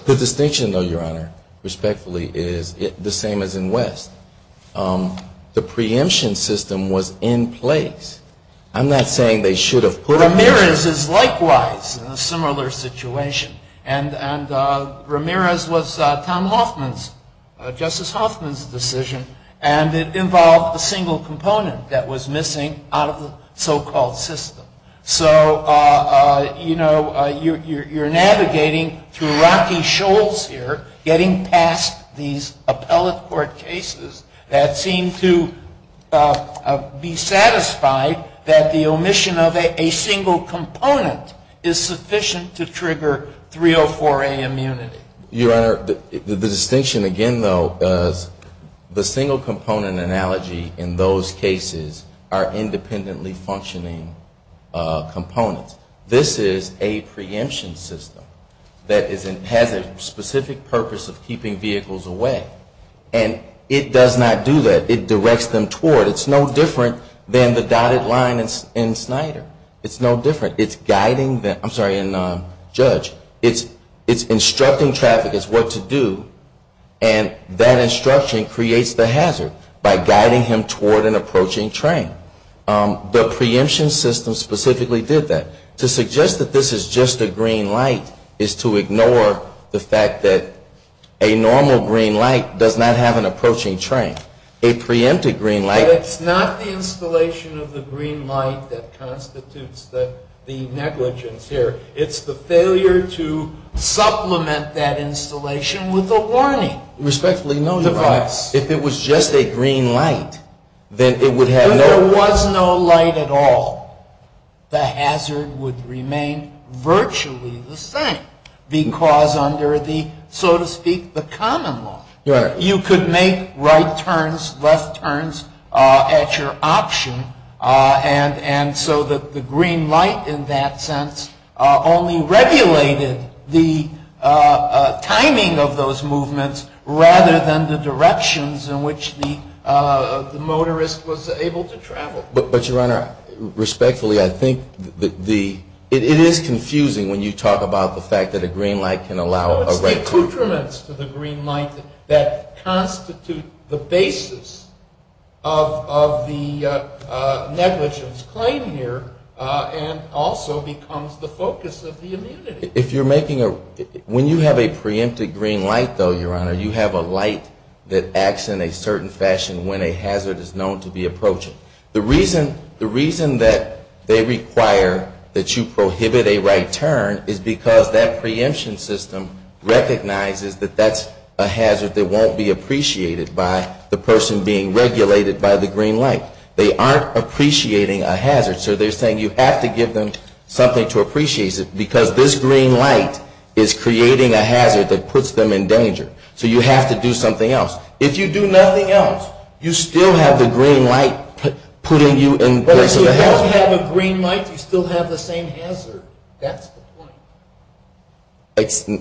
The distinction, though, Your Honor, respectfully, is the same as in West. The preemption system was in place. I'm not saying they should have put... Ramirez is likewise in a similar situation. And Ramirez was Tom Hoffman's, Justice Hoffman's decision, and it involved a single component that was missing out of the so-called system. So, you know, you're navigating through Rocky Shoals here, getting past these appellate court cases that seem to be satisfied that the omission of a single component is sufficient to trigger 304A immunity. Your Honor, the distinction again, though, is the single component analogy in those cases are independently functioning components. This is a preemption system that has a specific purpose of keeping vehicles away. And it does not do that. It directs them toward. It's no different than the dotted line in Snyder. It's no different. It's guiding them. I'm sorry, in Judge. It's instructing traffickers what to do, and that instruction creates the hazard by guiding him toward an approaching train. The preemption system specifically did that. To suggest that this is just a green light is to ignore the fact that a normal green light does not have an approaching train. A preempted green light... But it's not the installation of the green light that constitutes the negligence here. It's the failure to supplement that installation with a warning device. Respectfully noted, Your Honor. If it was just a green light, then it would have no... If there was no light at all, the hazard would remain virtually the same. Because under the, so to speak, the common law, you could make right turns, left turns at your option. And so the green light in that sense only regulated the timing of those directions in which the motorist was able to travel. But, Your Honor, respectfully, I think the... It is confusing when you talk about the fact that a green light can allow... No, it's the accoutrements to the green light that constitute the basis of the negligence claim here, and also becomes the focus of the immunity. If you're making a... certain fashion when a hazard is known to be approaching. The reason that they require that you prohibit a right turn is because that preemption system recognizes that that's a hazard that won't be appreciated by the person being regulated by the green light. They aren't appreciating a hazard. So they're saying you have to give them something to appreciate because this green light is creating a hazard that puts them in danger. So you have to do something else. If you do nothing else, you still have the green light putting you in place of a hazard. But if you don't have a green light, you still have the same hazard. That's the point.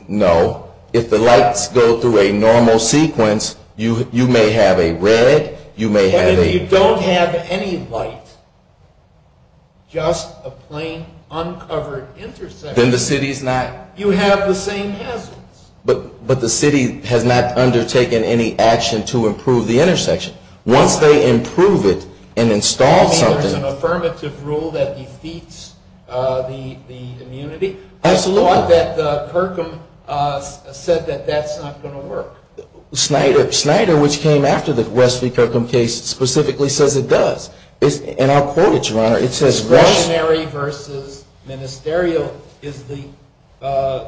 No. If the lights go through a normal sequence, you may have a red, you may have a... But if you don't have any light, just a plain uncovered intersection... Then the city's not... You have the same hazards. But the city has not undertaken any action to improve the intersection. Once they improve it and install something... You mean there's an affirmative rule that defeats the immunity? Absolutely. I thought that Kirkham said that that's not going to work. Snyder, which came after the West v. Kirkham case, specifically says it does. And I'll quote it, Your Honor. Ordinary versus ministerial is the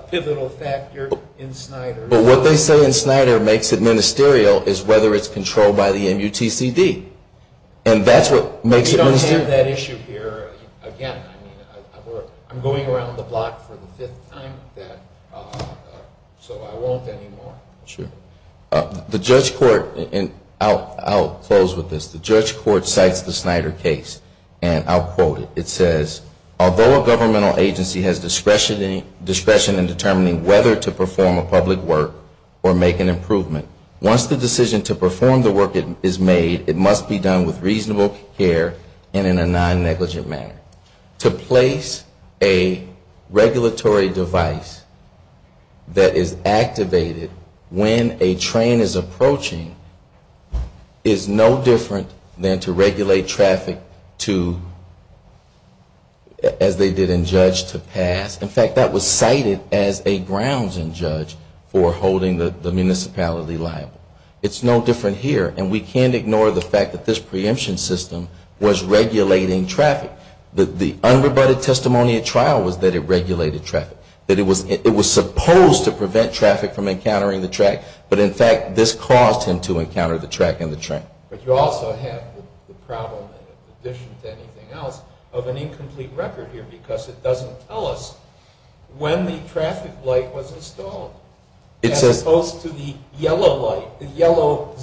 pivotal factor in Snyder. But what they say in Snyder makes it ministerial is whether it's controlled by the MUTCD. And that's what makes it ministerial. But you don't have that issue here again. I'm going around the block for the fifth time, so I won't anymore. Sure. The judge court, and I'll close with this. The judge court cites the Snyder case, and I'll quote it. It says, Although a governmental agency has discretion in determining whether to perform a public work or make an improvement, once the decision to perform the work is made, it must be done with reasonable care and in a non-negligent manner. To place a regulatory device that is activated when a train is approaching is no different than to regulate traffic to, as they did in Judge, to pass. In fact, that was cited as a grounds in Judge for holding the municipality liable. It's no different here. And we can't ignore the fact that this preemption system was regulating traffic. The unrebutted testimony at trial was that it regulated traffic. That it was supposed to prevent traffic from encountering the track, but in fact this caused him to encounter the track and the train. But you also have the problem, in addition to anything else, of an incomplete record here, because it doesn't tell us when the traffic light was installed. As opposed to the yellow light, the yellow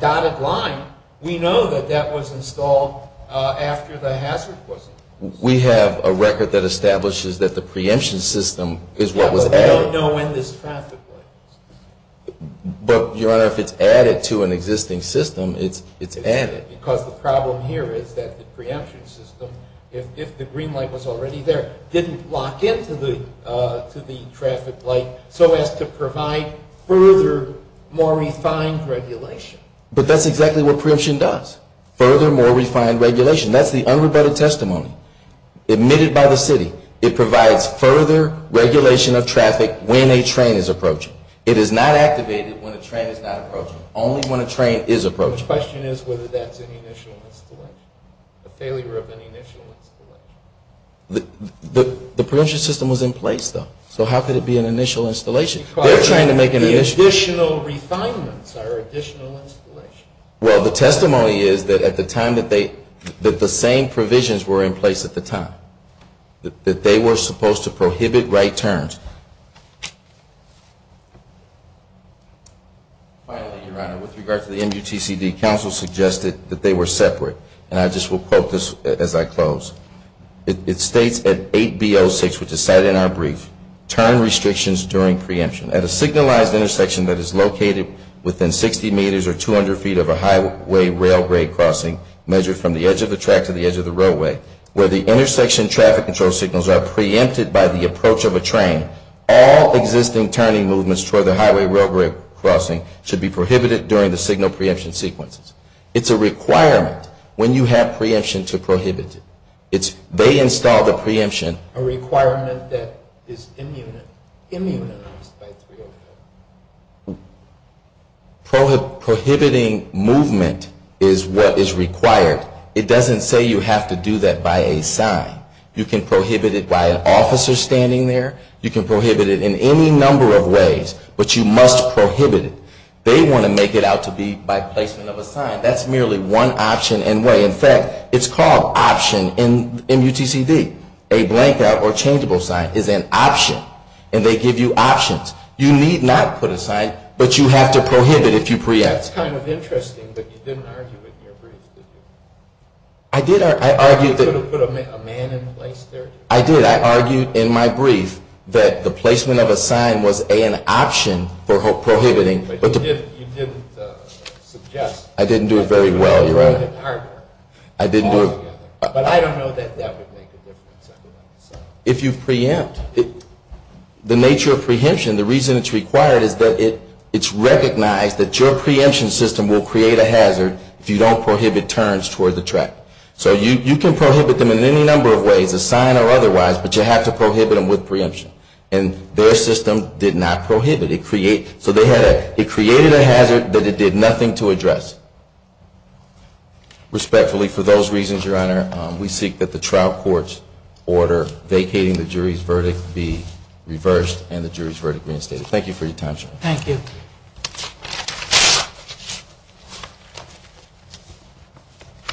dotted line, we know that that was installed after the hazard was imposed. We have a record that establishes that the preemption system is what was added. Yeah, but we don't know when this traffic light was installed. But, Your Honor, if it's added to an existing system, it's added. Because the problem here is that the preemption system, if the green light was already there, didn't lock into the traffic light so as to provide further, more refined regulation. But that's exactly what preemption does. Further, more refined regulation. That's the unrebutted testimony admitted by the city. It provides further regulation of traffic when a train is approaching. It is not activated when a train is not approaching. Only when a train is approaching. So the question is whether that's an initial installation, a failure of an initial installation. The preemption system was in place, though. So how could it be an initial installation? Because the additional refinements are additional installations. Well, the testimony is that at the time that they, that the same provisions were in place at the time. That they were supposed to prohibit right turns. Finally, Your Honor, with regard to the MUTCD, council suggested that they were separate. And I just will quote this as I close. It states at 8B06, which is cited in our brief, turn restrictions during preemption. At a signalized intersection that is located within 60 meters or 200 feet of a highway railway crossing, measured from the edge of the track to the edge of the roadway, where the intersection traffic control signals are preempted by the approach of a train, all existing turning movements toward the highway railroad crossing should be prohibited during the signal preemption sequences. It's a requirement when you have preemption to prohibit it. It's, they install the preemption. A requirement that is immunized by 305. Prohibiting movement is what is required. It doesn't say you have to do that by a sign. You can prohibit it by an officer standing there. You can prohibit it in any number of ways, but you must prohibit it. They want to make it out to be by placement of a sign. That's merely one option and way. In fact, it's called option in MUTCD. A blankout or changeable sign is an option. And they give you options. You need not put a sign, but you have to prohibit if you preempt. That's kind of interesting that you didn't argue it in your brief, did you? I did. You could have put a man in place there. I did. I argued in my brief that the placement of a sign was an option for prohibiting. But you didn't suggest. I didn't do it very well, Your Honor. But I don't know that that would make a difference. If you preempt. The nature of preemption, the reason it's required is that it's recognized that your preemption system will create a hazard if you don't prohibit turns toward the track. So you can prohibit them in any number of ways, a sign or otherwise, but you have to prohibit them with preemption. And their system did not prohibit. It created a hazard that it did nothing to address. Respectfully, for those reasons, Your Honor, we seek that the trial court's order vacating the jury's verdict be reversed and the jury's verdict reinstated. Thank you for your time, Your Honor. Thank you.